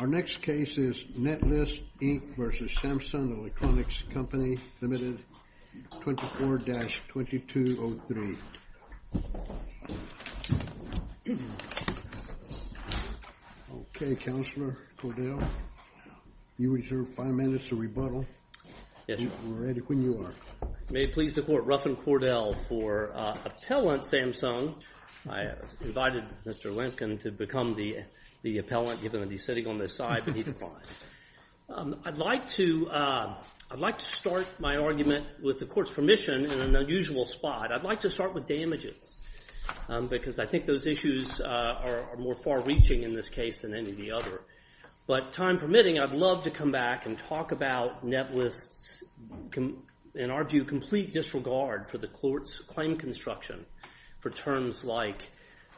Our next case is Netlist, Inc. v. Samsung Electronics Co., Ltd. 24-2203. Okay, Counselor Cordell, you reserve five minutes to rebuttal. Yes, Your Honor. We're ready when you are. May it please the Court, Ruffin Cordell for Appellant Samsung. I invited Mr. Lincoln to become the appellant given that he's sitting on this side, but he declined. I'd like to start my argument with the Court's permission in an unusual spot. I'd like to start with damages because I think those issues are more far-reaching in this case than any of the other. But time permitting, I'd love to come back and talk about Netlist's, in our view, complete disregard for the Court's claim construction for terms like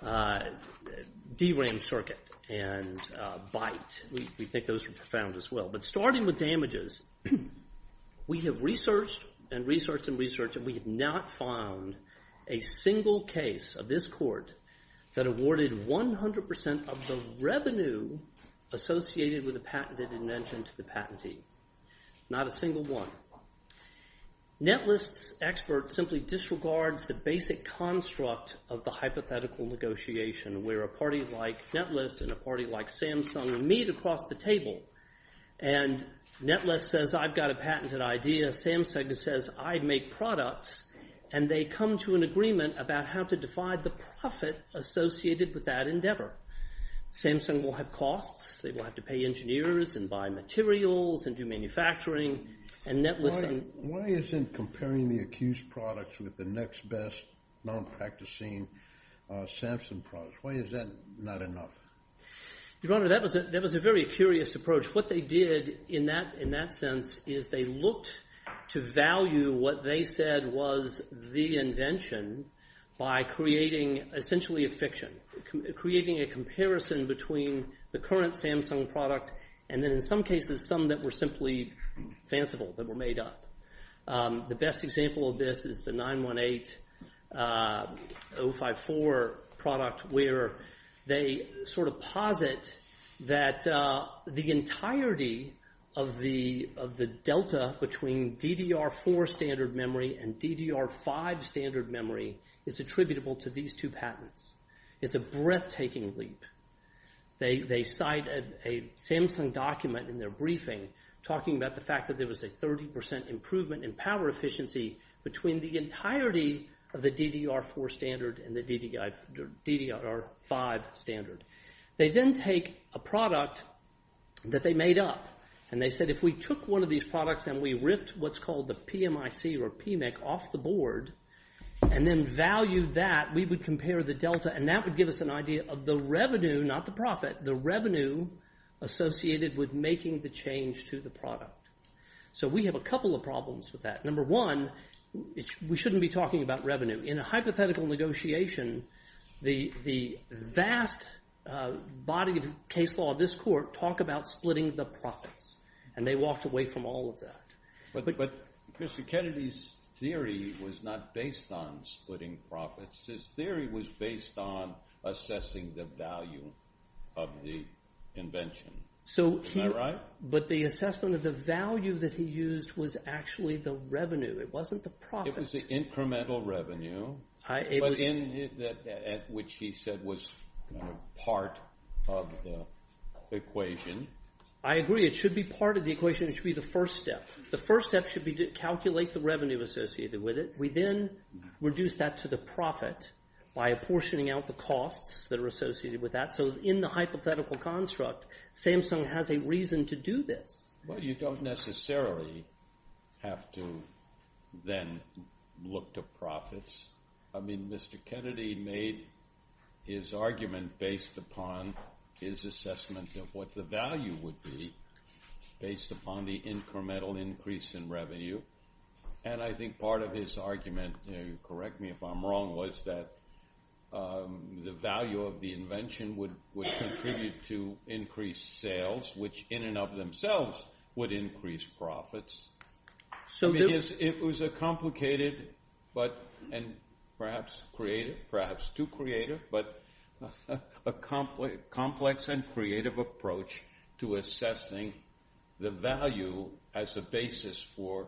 deram circuit and bite. We think those are profound as well. But starting with damages, we have researched and researched and researched, and we have not found a single case of this Court that awarded 100% of the revenue associated with a patented invention to the patentee. Not a single one. Netlist's expert simply disregards the basic construct of the hypothetical negotiation where a party like Netlist and a party like Samsung meet across the table. And Netlist says, I've got a patented idea. Samsung says, I make products. And they come to an agreement about how to divide the profit associated with that endeavor. Samsung will have costs. They will have to pay engineers and buy materials and do manufacturing. Why isn't comparing the accused products with the next best non-practicing Samsung products? Why is that not enough? Your Honor, that was a very curious approach. What they did in that sense is they looked to value what they said was the invention by creating essentially a fiction, creating a comparison between the current Samsung product and then in some cases some that were simply fanciful, that were made up. The best example of this is the 918054 product where they sort of posit that the entirety of the delta between DDR4 standard memory and DDR5 standard memory is attributable to these two patents. It's a breathtaking leap. They cite a Samsung document in their briefing talking about the fact that there was a 30% improvement in power efficiency between the entirety of the DDR4 standard and the DDR5 standard. They then take a product that they made up and they said if we took one of these products and we ripped what's called the PMIC or PMIC off the board and then valued that, we would compare the delta and that would give us an idea of the revenue, not the profit, the revenue associated with making the change to the product. So we have a couple of problems with that. Number one, we shouldn't be talking about revenue. In a hypothetical negotiation, the vast body of case law of this court talk about splitting the profits and they walked away from all of that. But Mr. Kennedy's theory was not based on splitting profits. His theory was based on assessing the value of the invention. Is that right? But the assessment of the value that he used was actually the revenue. It wasn't the profit. It was the incremental revenue at which he said was part of the equation. I agree. It should be part of the equation. It should be the first step. The first step should be to calculate the revenue associated with it. We then reduce that to the profit by apportioning out the costs that are associated with that. So in the hypothetical construct, Samsung has a reason to do this. Well, you don't necessarily have to then look to profits. I mean Mr. Kennedy made his argument based upon his assessment of what the value would be based upon the incremental increase in revenue. And I think part of his argument, correct me if I'm wrong, was that the value of the invention would contribute to increased sales, which in and of themselves would increase profits. It was a complicated and perhaps creative, perhaps too creative, but a complex and creative approach to assessing the value as a basis for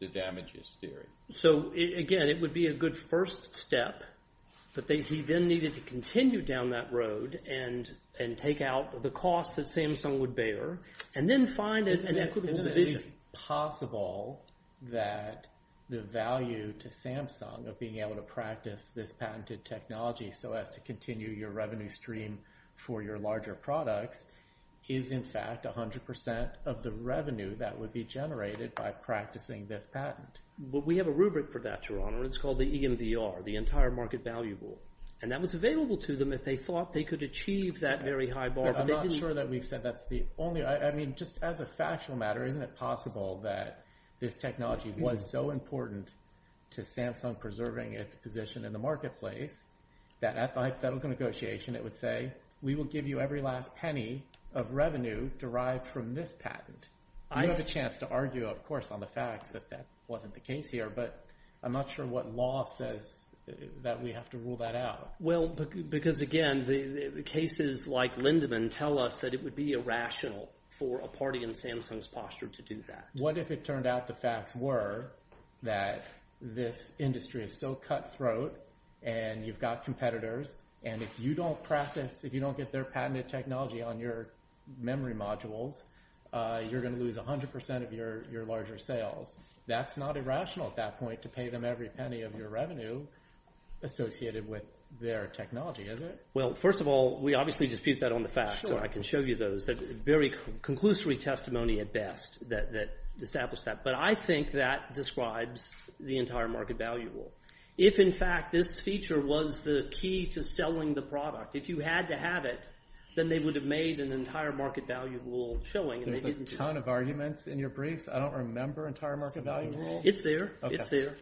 the damages theory. So again, it would be a good first step, but he then needed to continue down that road and take out the cost that Samsung would bear and then find an equitable division. Is it possible that the value to Samsung of being able to practice this patented technology so as to continue your revenue stream for your larger products is in fact 100% of the revenue that would be generated by practicing this patent? Well, we have a rubric for that, Your Honor. It's called the EMVR, the Entire Market Valuable. And that was available to them if they thought they could achieve that very high bar. I'm not sure that we've said that's the only – I mean just as a factual matter, isn't it possible that this technology was so important to Samsung preserving its position in the marketplace that at the hypothetical negotiation it would say, we will give you every last penny of revenue derived from this patent? You have a chance to argue, of course, on the facts that that wasn't the case here, but I'm not sure what law says that we have to rule that out. Well, because again, the cases like Lindemann tell us that it would be irrational for a party in Samsung's posture to do that. What if it turned out the facts were that this industry is so cutthroat and you've got competitors, and if you don't practice – if you don't get their patented technology on your memory modules, you're going to lose 100% of your larger sales. That's not irrational at that point to pay them every penny of your revenue associated with their technology, is it? Well, first of all, we obviously dispute that on the facts, so I can show you those. Very conclusory testimony at best that established that. But I think that describes the entire market value rule. If in fact this feature was the key to selling the product, if you had to have it, then they would have made an entire market value rule showing. There's a ton of arguments in your briefs. I don't remember entire market value rule. It's there. It's there.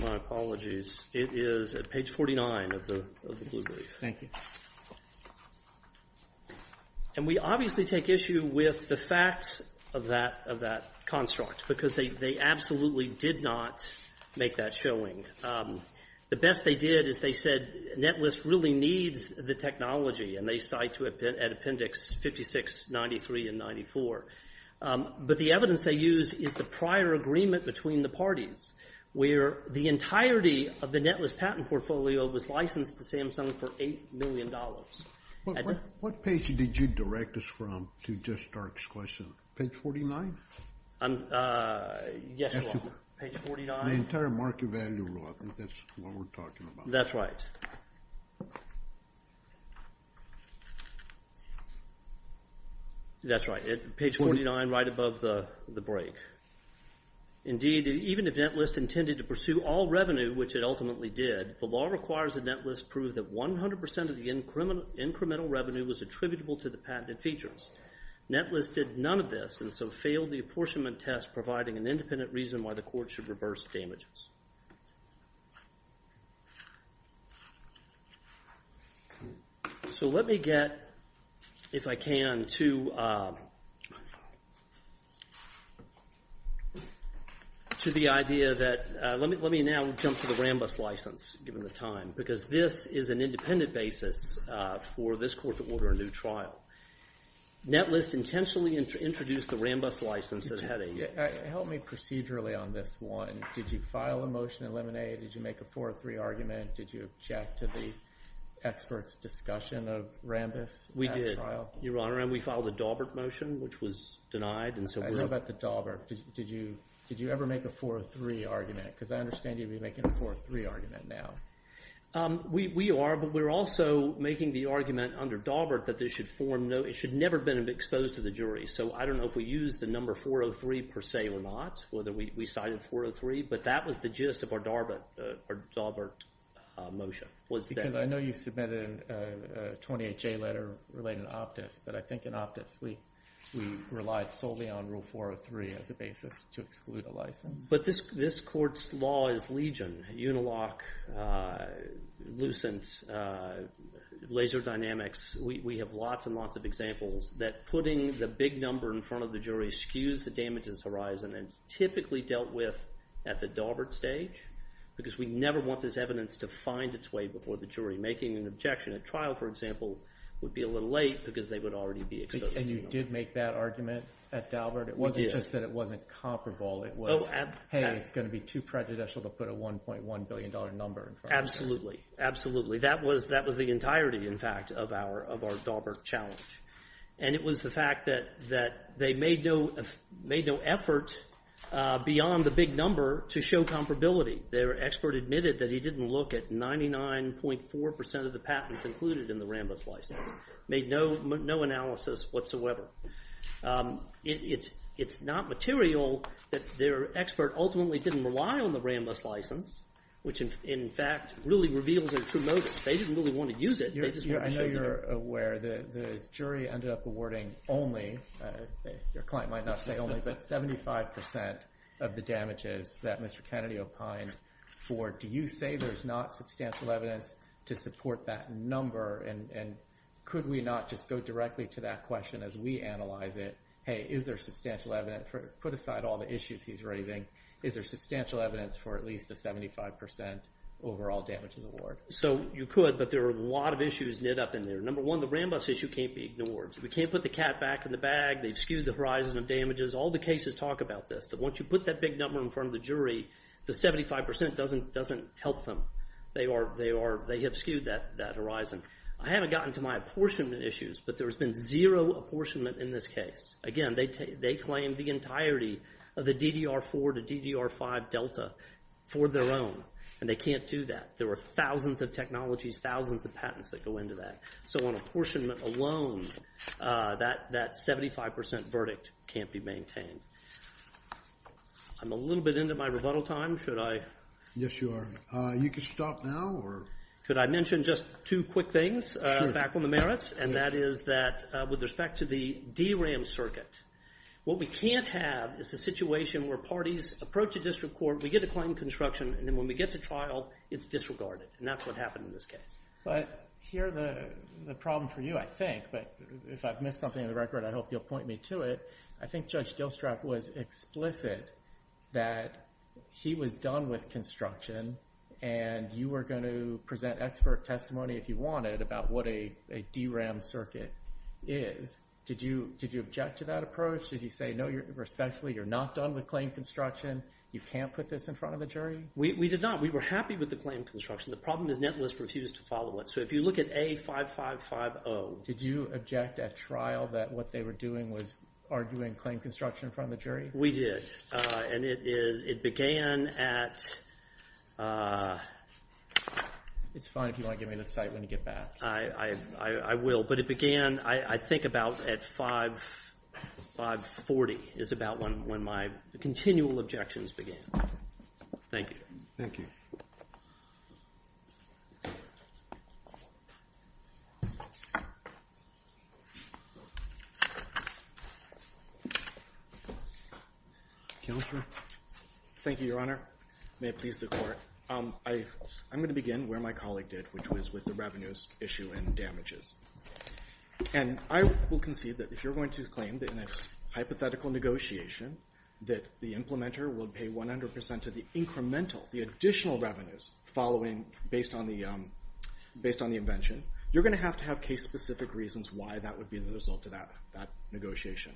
My apologies. It is at page 49 of the blue brief. Thank you. And we obviously take issue with the facts of that construct because they absolutely did not make that showing. The best they did is they said Netlist really needs the technology, and they cite it at appendix 56, 93, and 94. But the evidence they use is the prior agreement between the parties where the entirety of the Netlist patent portfolio was licensed to Samsung for $8 million. What page did you direct us from to just start this question? Page 49? Yes, Your Honor. Page 49. The entire market value rule. I think that's what we're talking about. That's right. That's right. Page 49, right above the break. Indeed, even if Netlist intended to pursue all revenue, which it ultimately did, the law requires that Netlist prove that 100% of the incremental revenue was attributable to the patented features. Netlist did none of this and so failed the apportionment test, providing an independent reason why the court should reverse damages. So let me get, if I can, to the idea that let me now jump to the Rambus license, given the time, because this is an independent basis for this court to order a new trial. Netlist intentionally introduced the Rambus license that had a- Help me procedurally on this one. Did you file a motion in Lemonade? Did you make a 403 argument? Did you object to the expert's discussion of Rambus? We did, Your Honor, and we filed a Daubert motion, which was denied. I know about the Daubert. Did you ever make a 403 argument? Because I understand you'd be making a 403 argument now. We are, but we're also making the argument under Daubert that this should form, it should never have been exposed to the jury. So I don't know if we used the number 403 per se or not, whether we cited 403, but that was the gist of our Daubert motion. Because I know you submitted a 28-J letter related to Optus, but I think in Optus we relied solely on Rule 403 as a basis to exclude a license. But this court's law is legion, uniloc, lucent, laser dynamics. We have lots and lots of examples that putting the big number in front of the jury skews the damages horizon, and it's typically dealt with at the Daubert stage because we never want this evidence to find its way before the jury. Making an objection at trial, for example, would be a little late because they would already be exposed to the jury. And you did make that argument at Daubert? We did. It wasn't just that it wasn't comparable. It was, hey, it's going to be too prejudicial to put a $1.1 billion number in front of it. Absolutely, absolutely. That was the entirety, in fact, of our Daubert challenge. And it was the fact that they made no effort beyond the big number to show comparability. Their expert admitted that he didn't look at 99.4% of the patents included in the Rambus license, made no analysis whatsoever. It's not material that their expert ultimately didn't rely on the Rambus license, which, in fact, really reveals their true motives. They didn't really want to use it. I know you're aware the jury ended up awarding only, your client might not say only, but 75% of the damages that Mr. Kennedy opined for, do you say there's not substantial evidence to support that number? And could we not just go directly to that question as we analyze it? Hey, is there substantial evidence? Put aside all the issues he's raising. Is there substantial evidence for at least a 75% overall damages award? So you could, but there are a lot of issues knit up in there. Number one, the Rambus issue can't be ignored. We can't put the cat back in the bag. They've skewed the horizon of damages. All the cases talk about this, that once you put that big number in front of the jury, the 75% doesn't help them. They have skewed that horizon. I haven't gotten to my apportionment issues, but there's been zero apportionment in this case. Again, they claim the entirety of the DDR4 to DDR5 delta for their own, and they can't do that. There are thousands of technologies, thousands of patents that go into that. So on apportionment alone, that 75% verdict can't be maintained. I'm a little bit into my rebuttal time. Should I? Yes, you are. You can stop now. Could I mention just two quick things back on the merits, and that is that with respect to the DRAM circuit, what we can't have is a situation where parties approach a district court, we get to claim construction, and then when we get to trial, it's disregarded, and that's what happened in this case. But here the problem for you, I think, but if I've missed something in the record, I hope you'll point me to it. I think Judge Gilstrap was explicit that he was done with construction, and you were going to present expert testimony if you wanted about what a DRAM circuit is. Did you object to that approach? Did you say, no, respectfully, you're not done with claim construction, you can't put this in front of a jury? We did not. We were happy with the claim construction. The problem is Netlist refused to follow it. So if you look at A5550. Did you object at trial that what they were doing was arguing claim construction in front of the jury? We did. And it began at… It's fine if you want to give me an insight when you get back. I will. But it began, I think, about at 540 is about when my continual objections began. Thank you. Thank you. Counselor? Thank you, Your Honor. May it please the Court. I'm going to begin where my colleague did, which was with the revenues issue and damages. And I will concede that if you're going to claim that in a hypothetical negotiation that the implementer will pay 100% of the incremental, the additional revenues following based on the invention, you're going to have to have case-specific reasons why that would be the result of that negotiation.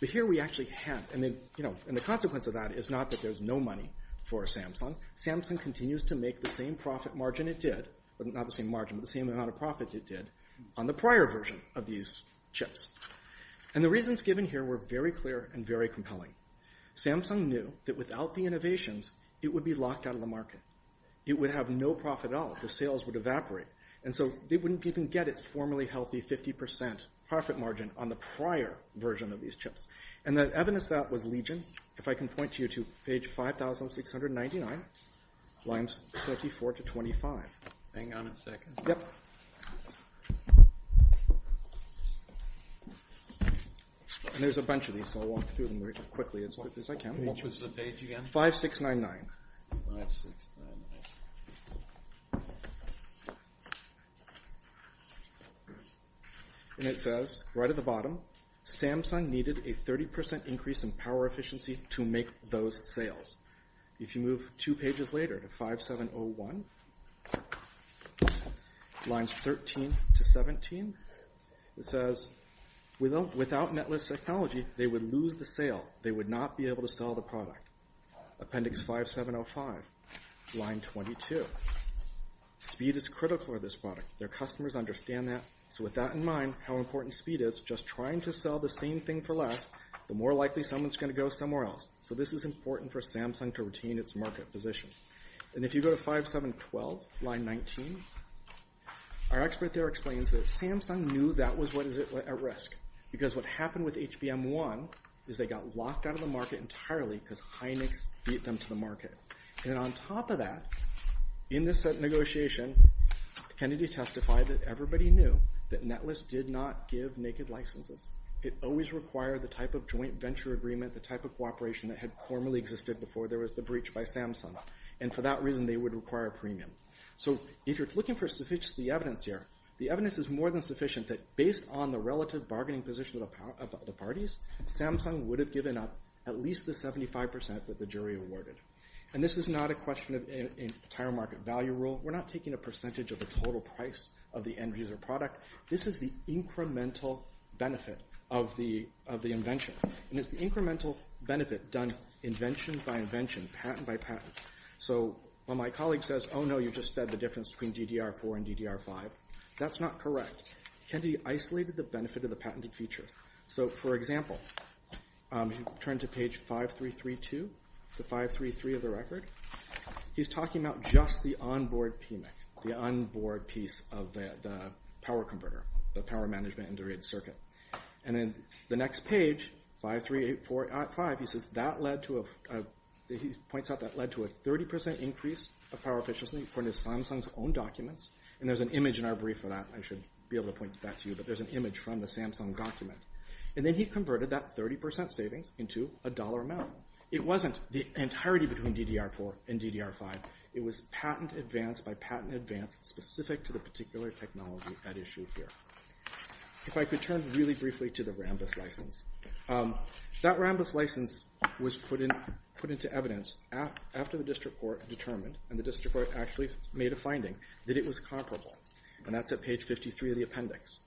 But here we actually have… And the consequence of that is not that there's no money for Samsung. Samsung continues to make the same profit margin it did, but not the same margin, but the same amount of profit it did on the prior version of these chips. And the reasons given here were very clear and very compelling. Samsung knew that without the innovations, it would be locked out of the market. It would have no profit at all. The sales would evaporate. And so they wouldn't even get its formerly healthy 50% profit margin on the prior version of these chips. And the evidence of that was Legion. If I can point you to page 5699, lines 24 to 25. Hang on a second. Yep. And there's a bunch of these, so I'll walk through them as quickly as I can. Which was the page again? 5699. 5699. And it says right at the bottom, Samsung needed a 30% increase in power efficiency to make those sales. If you move two pages later to 5701, lines 13 to 17, it says without netless technology, they would lose the sale. They would not be able to sell the product. Appendix 5705, line 22. Speed is critical for this product. Their customers understand that. So with that in mind, how important speed is, just trying to sell the same thing for less, the more likely someone's going to go somewhere else. So this is important for Samsung to retain its market position. And if you go to 5712, line 19, our expert there explains that Samsung knew that was what was at risk because what happened with HBM1 is they got locked out of the market entirely because Hynix beat them to the market. And on top of that, in this negotiation, Kennedy testified that everybody knew that netless did not give naked licenses. It always required the type of joint venture agreement, the type of cooperation that had formerly existed before there was the breach by Samsung. And for that reason, they would require a premium. So if you're looking for the evidence here, the evidence is more than sufficient that based on the relative bargaining position of the parties, Samsung would have given up at least the 75% that the jury awarded. And this is not a question of an entire market value rule. We're not taking a percentage of the total price of the end-user product. This is the incremental benefit of the invention. And it's the incremental benefit done invention by invention, patent by patent. So when my colleague says, oh, no, you just said the difference between DDR4 and DDR5, that's not correct. Kennedy isolated the benefit of the patented features. So, for example, if you turn to page 5332, the 533 of the record, he's talking about just the on-board PMIC, the on-board piece of the power converter, the power management integrated circuit. And then the next page, 53845, he says that led to a 30% increase of power efficiency according to Samsung's own documents. And there's an image in our brief for that. I should be able to point that to you. But there's an image from the Samsung document. And then he converted that 30% savings into a dollar amount. It wasn't the entirety between DDR4 and DDR5. It was patent advance by patent advance specific to the particular technology at issue here. If I could turn really briefly to the Rambus license. That Rambus license was put into evidence after the district court determined, and the district court actually made a finding, that it was comparable. And that's at page 53 of the appendix.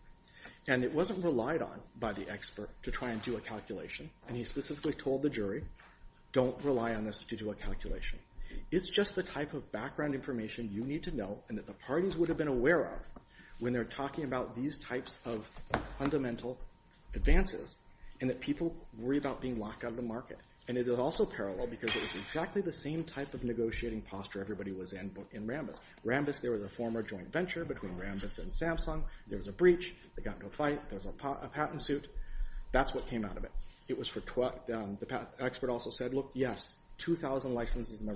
And it wasn't relied on by the expert to try and do a calculation. And he specifically told the jury, don't rely on this to do a calculation. It's just the type of background information you need to know and that the parties would have been aware of when they're talking about these types of fundamental advances and that people worry about being locked out of the market. And it is also parallel because it is exactly the same type of negotiating posture everybody was in in Rambus. Rambus, there was a former joint venture between Rambus and Samsung. There was a breach. They got into a fight. There was a patent suit. That's what came out of it. The expert also said, look, yes, 2,000 patents in the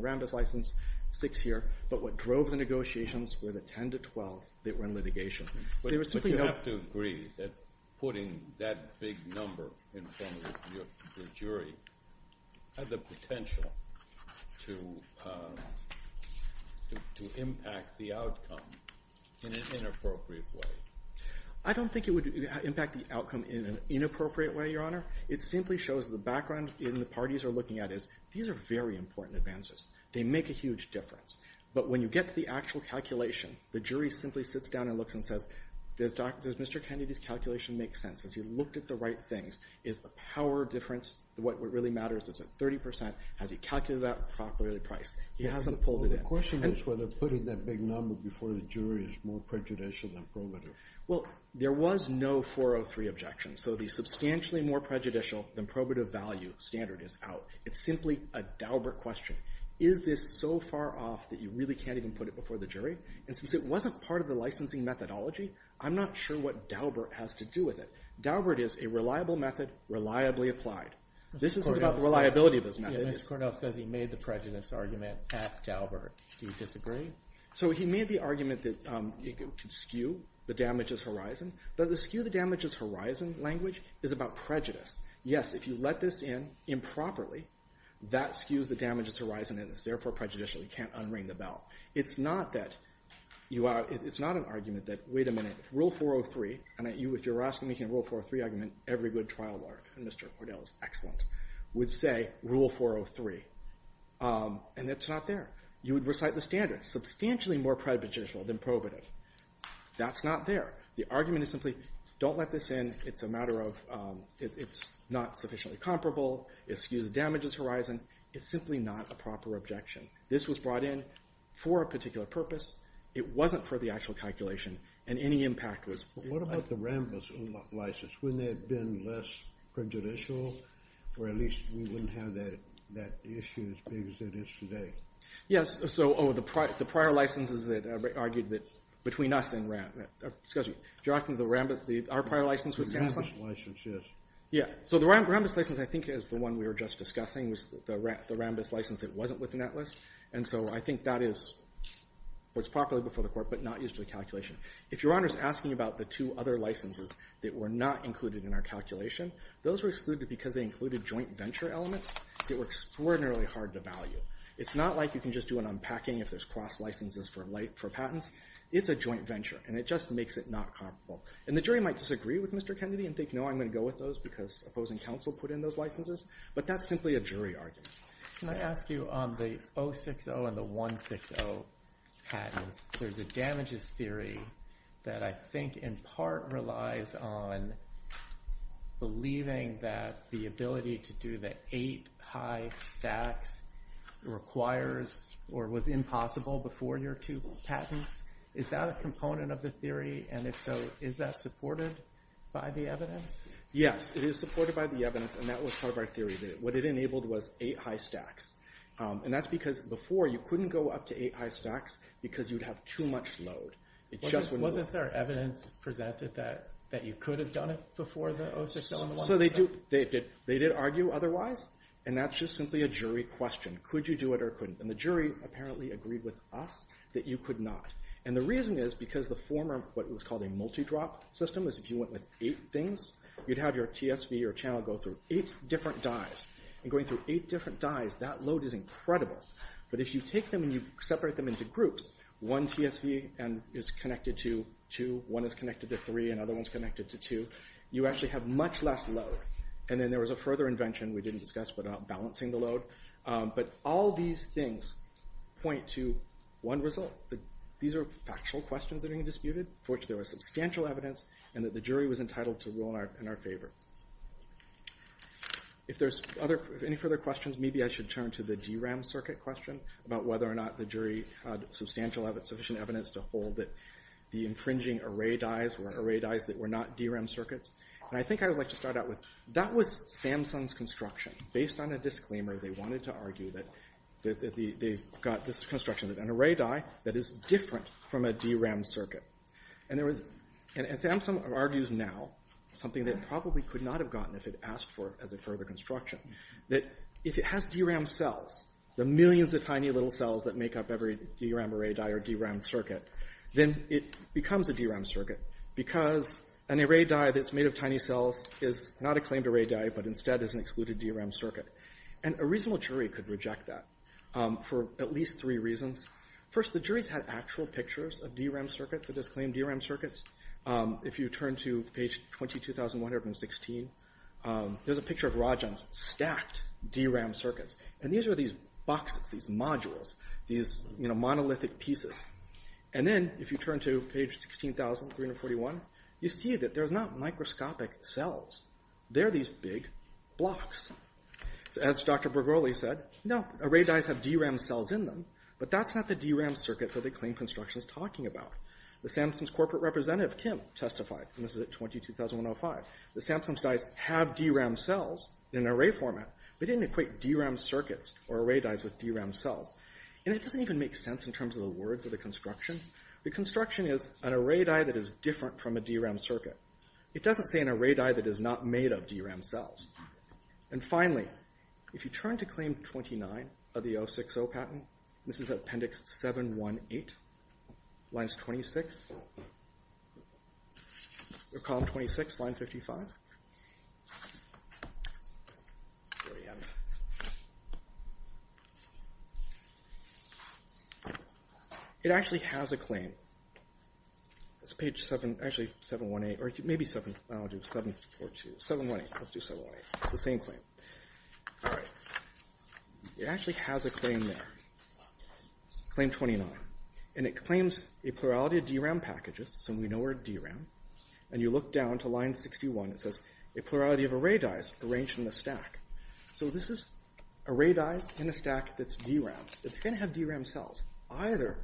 Rambus license, six here. But what drove the negotiations were the 10 to 12 that were in litigation. But you have to agree that putting that big number in front of the jury has the potential to impact the outcome in an inappropriate way. I don't think it would impact the outcome in an inappropriate way, Your Honor. It simply shows the background in the parties are looking at is these are very important advances. They make a huge difference. But when you get to the actual calculation, the jury simply sits down and looks and says, does Mr. Kennedy's calculation make sense? Has he looked at the right things? Is the power difference what really matters? Is it 30%? Has he calculated that properly? He hasn't pulled it in. The question is whether putting that big number before the jury is more prejudicial than probative. Well, there was no 403 objection. So the substantially more prejudicial than probative value standard is out. It's simply a Daubert question. Is this so far off that you really can't even put it before the jury? And since it wasn't part of the licensing methodology, I'm not sure what Daubert has to do with it. Daubert is a reliable method, reliably applied. This isn't about the reliability of those methods. Mr. Cornell says he made the prejudice argument at Daubert. Do you disagree? So he made the argument that it could skew the damages horizon. But the skew the damages horizon language is about prejudice. Yes, if you let this in improperly, that skews the damages horizon and is therefore prejudicial. You can't unring the bell. It's not an argument that, wait a minute, rule 403, and if you're making a rule 403 argument, every good trial lawyer, and Mr. Cornell is excellent, would say rule 403. And it's not there. You would recite the standard, substantially more prejudicial than probative. That's not there. The argument is simply don't let this in. It's a matter of it's not sufficiently comparable. It skews the damages horizon. It's simply not a proper objection. This was brought in for a particular purpose. It wasn't for the actual calculation, and any impact was. What about the Rambus license? Wouldn't that have been less prejudicial? Or at least we wouldn't have that issue as big as it is today. Yes, so the prior licenses that argued between us and Rambus. Excuse me. You're talking about our prior license? The Rambus license, yes. Yeah, so the Rambus license, I think, is the one we were just discussing was the Rambus license that wasn't within that list. And so I think that is properly before the court but not used for the calculation. If Your Honor's asking about the two other licenses that were not included in our calculation, those were excluded because they included joint venture elements that were extraordinarily hard to value. It's not like you can just do an unpacking if there's cross licenses for patents. It's a joint venture, and it just makes it not comparable. And the jury might disagree with Mr. Kennedy and think, no, I'm going to go with those because opposing counsel put in those licenses. But that's simply a jury argument. Can I ask you on the 060 and the 160 patents, there's a damages theory that I think in part relies on believing that the ability to do the eight high stacks requires or was impossible before your two patents. Is that a component of the theory? And if so, is that supported by the evidence? Yes, it is supported by the evidence, and that was part of our theory. What it enabled was eight high stacks. And that's because before, you couldn't go up to eight high stacks because you'd have too much load. It just wouldn't move. Wasn't there evidence presented that you could have done it before the 060 and the 160? They did argue otherwise, and that's just simply a jury question. Could you do it or couldn't? And the jury apparently agreed with us that you could not. And the reason is because the former, what was called a multi-drop system, is if you went with eight things, you'd have your TSV, your channel, go through eight different dyes. And going through eight different dyes, that load is incredible. But if you take them and you separate them into groups, one TSV is connected to two, one is connected to three, and other one's connected to two, you actually have much less load. And then there was a further invention we didn't discuss, but balancing the load. But all these things point to one result. These are factual questions that are being disputed, for which there was substantial evidence, and that the jury was entitled to rule in our favor. If there's any further questions, maybe I should turn to the DRAM circuit question, about whether or not the jury had substantial evidence, sufficient evidence, to hold that the infringing array dyes were array dyes that were not DRAM circuits. And I think I would like to start out with, that was Samsung's construction. Based on a disclaimer, they wanted to argue that they got this construction, an array dye that is different from a DRAM circuit. And Samsung argues now, something that it probably could not have gotten if it asked for it as a further construction, that if it has DRAM cells, the millions of tiny little cells that make up every DRAM array dye or DRAM circuit, then it becomes a DRAM circuit. Because an array dye that's made of tiny cells is not a claimed array dye, but instead is an excluded DRAM circuit. And a reasonable jury could reject that for at least three reasons. First, the jury's had actual pictures of DRAM circuits, of disclaimed DRAM circuits. If you turn to page 22,116, there's a picture of Rajan's. Stacked DRAM circuits. And these are these boxes, these modules, these monolithic pieces. And then if you turn to page 16,341, you see that there's not microscopic cells. There are these big blocks. So as Dr. Bregoli said, no, array dyes have DRAM cells in them. But that's not the DRAM circuit that they claim construction's talking about. The Samsung's corporate representative, Kim, testified, and this is at 20,2005, that Samsung's dyes have DRAM cells in an array format. But they didn't equate DRAM circuits or array dyes with DRAM cells. And it doesn't even make sense in terms of the words of the construction. The construction is an array dye that is different from a DRAM circuit. It doesn't say an array dye that is not made of DRAM cells. And finally, if you turn to claim 29 of the 060 patent, this is appendix 718, lines 26. They're column 26, line 55. It actually has a claim. It's page 7, actually 718. Or maybe 7, I'll do 7 or 2. 718. Let's do 718. It's the same claim. All right. It actually has a claim there, claim 29. And it claims a plurality of DRAM packages. So we know we're DRAM. And you look down to line 61. It says, a plurality of array dyes arranged in a stack. So this is array dyes in a stack that's DRAM. It's going to have DRAM cells. Either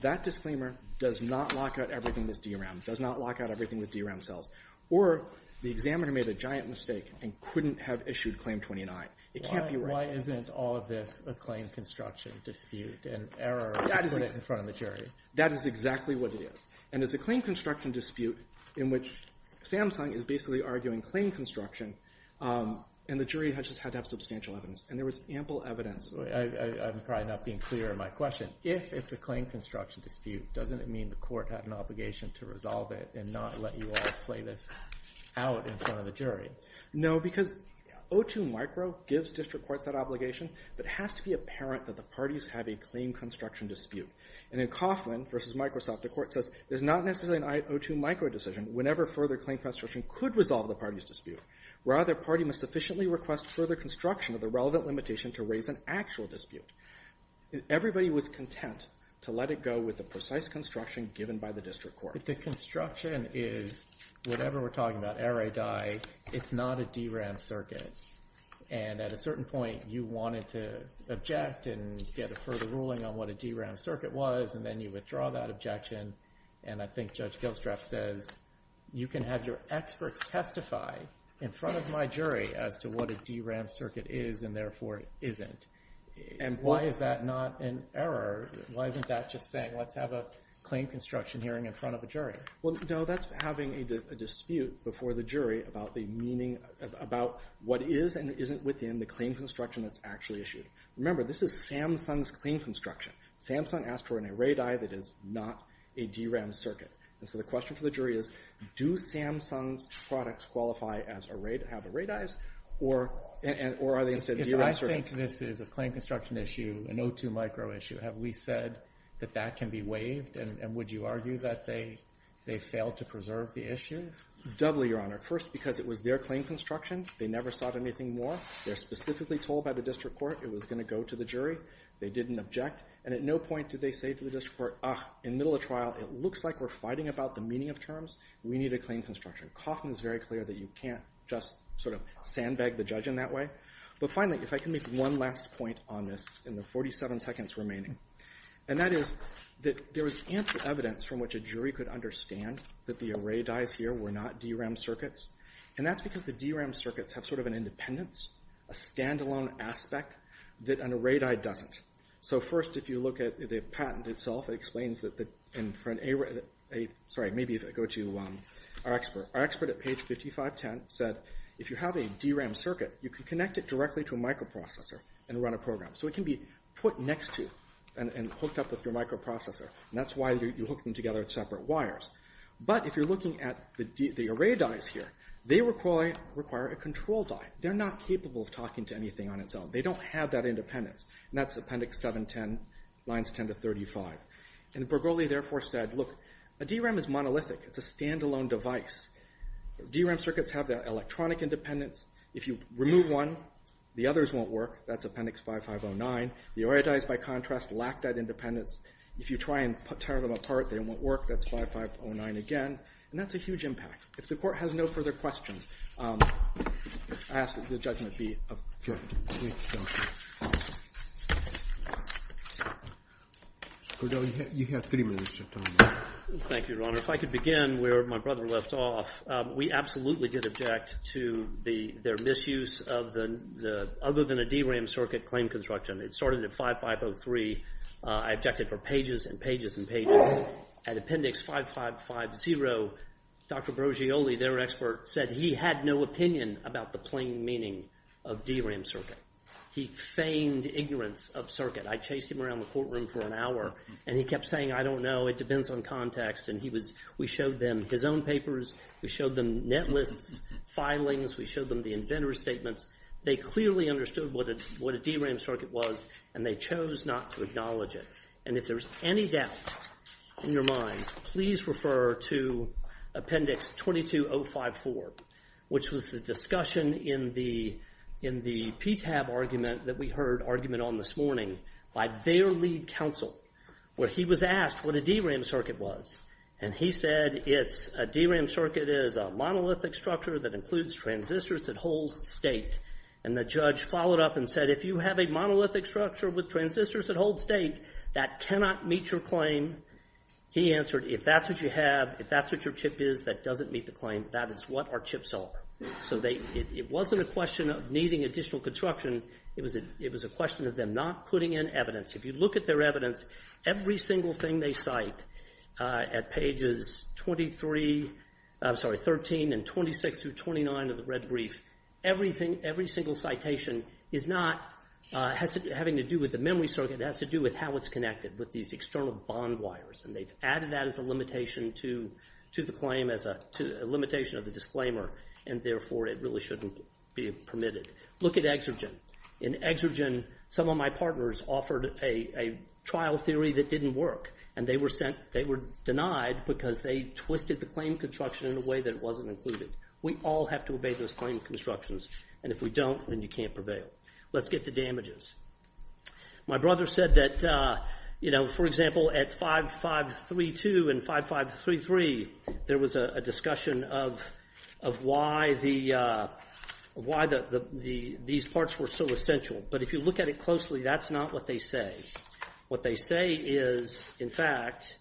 that disclaimer does not lock out everything that's DRAM, does not lock out everything with DRAM cells, or the examiner made a giant mistake and couldn't have issued claim 29. It can't be right. Why isn't all of this a claim construction dispute and error in front of the jury? That is exactly what it is. And it's a claim construction dispute in which Samsung is basically arguing claim construction. And the jury just had to have substantial evidence. And there was ample evidence. I'm probably not being clear in my question. If it's a claim construction dispute, doesn't it mean the court had an obligation to resolve it and not let you all play this out in front of the jury? No, because O2 Micro gives district courts that obligation. But it has to be apparent that the parties have a claim construction dispute. And in Coffman versus Microsoft, the court says, there's not necessarily an O2 Micro decision whenever further claim construction could resolve the party's dispute. Rather, the party must sufficiently request further construction of the relevant limitation to raise an actual dispute. Everybody was content to let it go with the precise construction given by the district court. But the construction is whatever we're talking about, error or die, it's not a DRAM circuit. And at a certain point, you wanted to object and get a further ruling on what a DRAM circuit was. And then you withdraw that objection. And I think Judge Gilstrap says, you can have your experts testify in front of my jury as to what a DRAM circuit is and therefore isn't. And why is that not an error? Why isn't that just saying, let's have a claim construction hearing in front of a jury? Well, no, that's having a dispute before the jury about what is and isn't within the claim construction that's actually issued. Remember, this is Samsung's claim construction. Samsung asked for an array die that is not a DRAM circuit. And so the question for the jury is, do Samsung's products qualify to have array dies? Or are they instead DRAM circuits? If I think this is a claim construction issue, an O2 micro issue, have we said that that can be waived? And would you argue that they failed to preserve the issue? Doubly, Your Honor. First, because it was their claim construction. They never sought anything more. They're specifically told by the district court it was going to go to the jury. They didn't object. And at no point did they say to the district court, ah, in the middle of trial, it looks like we're fighting about the meaning of terms. We need a claim construction. Kaufman is very clear that you can't just sort of sandbag the judge in that way. But finally, if I can make one last point on this in the 47 seconds remaining, and that is that there was ample evidence from which a jury could understand that the array dies here were not DRAM circuits. And that's because the DRAM circuits have sort of an independence, a standalone aspect, that an array die doesn't. So first, if you look at the patent itself, it explains that the, sorry, maybe if I go to our expert. Our expert at page 5510 said, if you have a DRAM circuit, you can connect it directly to a microprocessor and run a program. So it can be put next to and hooked up with your microprocessor. And that's why you hook them together as separate wires. But if you're looking at the array dies here, they require a control die. They're not capable of talking to anything on its own. They don't have that independence. And that's appendix 710, lines 10 to 35. And Bergogli, therefore, said, look, a DRAM is monolithic. It's a standalone device. DRAM circuits have that electronic independence. If you remove one, the others won't work. That's appendix 5509. The array dies, by contrast, lack that independence. If you try and tear them apart, they won't work. That's 5509 again. And that's a huge impact. If the court has no further questions, I ask that the judgment be adjourned. Thank you, Your Honor. You have three minutes of time. Thank you, Your Honor. If I could begin where my brother left off, we absolutely did object to their misuse of the other than a DRAM circuit claim construction. It started at 5503. I objected for pages and pages and pages. At appendix 5550, Dr. Bergogli, their expert, said he had no opinion about the plain meaning of DRAM circuit. He feigned ignorance of circuit. I chased him around the courtroom for an hour, and he kept saying, I don't know. It depends on context. And we showed them his own papers. We showed them net lists, filings. We showed them the inventor's statements. They clearly understood what a DRAM circuit was, and they chose not to acknowledge it. And if there's any doubt in your minds, please refer to appendix 22054, which was the discussion in the PTAB argument that we heard argument on this morning by their lead counsel, where he was asked what a DRAM circuit was. And he said a DRAM circuit is a monolithic structure that includes transistors that hold state. And the judge followed up and said, if you have a monolithic structure with transistors that hold state, that cannot meet your claim. He answered, if that's what you have, if that's what your chip is that doesn't meet the claim, that is what our chips help. So it wasn't a question of needing additional construction. It was a question of them not putting in evidence. If you look at their evidence, every single thing they cite at pages 23, I'm sorry, 13 and 26 through 29 of the red brief, every single citation is not having to do with the memory circuit. It has to do with how it's connected with these external bond wires, and they've added that as a limitation to the claim, as a limitation of the disclaimer, and therefore it really shouldn't be permitted. Look at Exergen. In Exergen, some of my partners offered a trial theory that didn't work, and they were denied because they twisted the claim construction in a way that it wasn't included. We all have to obey those claim constructions, and if we don't, then you can't prevail. Let's get to damages. My brother said that, you know, for example, at 5532 and 5533, there was a discussion of why these parts were so essential, but if you look at it closely, that's not what they say. What they say is, in fact,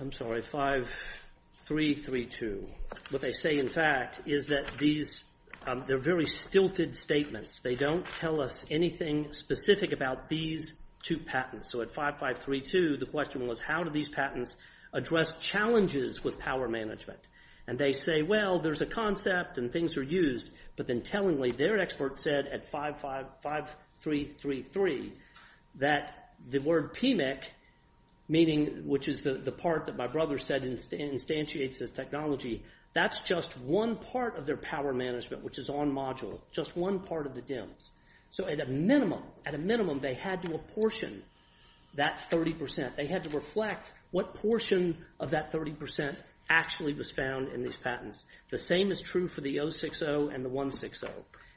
I'm sorry, 5332. What they say, in fact, is that these are very stilted statements. They don't tell us anything specific about these two patents. So at 5532, the question was, how do these patents address challenges with power management? And they say, well, there's a concept and things are used, but then tellingly their expert said at 5533 that the word PMIC, meaning which is the part that my brother said instantiates this technology, that's just one part of their power management which is on module, just one part of the DIMMS. So at a minimum, at a minimum, they had to apportion that 30%. They had to reflect what portion of that 30% actually was found in these patents. The same is true for the 060 and the 160.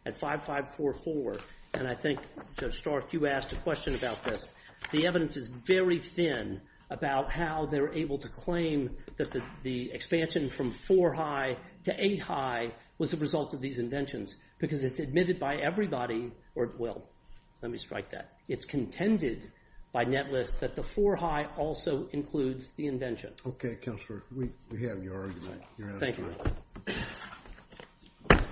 At 5544, and I think, Judge Stark, you asked a question about this, the evidence is very thin about how they're able to claim that the expansion from four high to eight high was the result of these inventions because it's admitted by everybody. Well, let me strike that. It's contended by Netlist that the four high also includes the invention. Okay, Counselor, we have your argument. Thank you.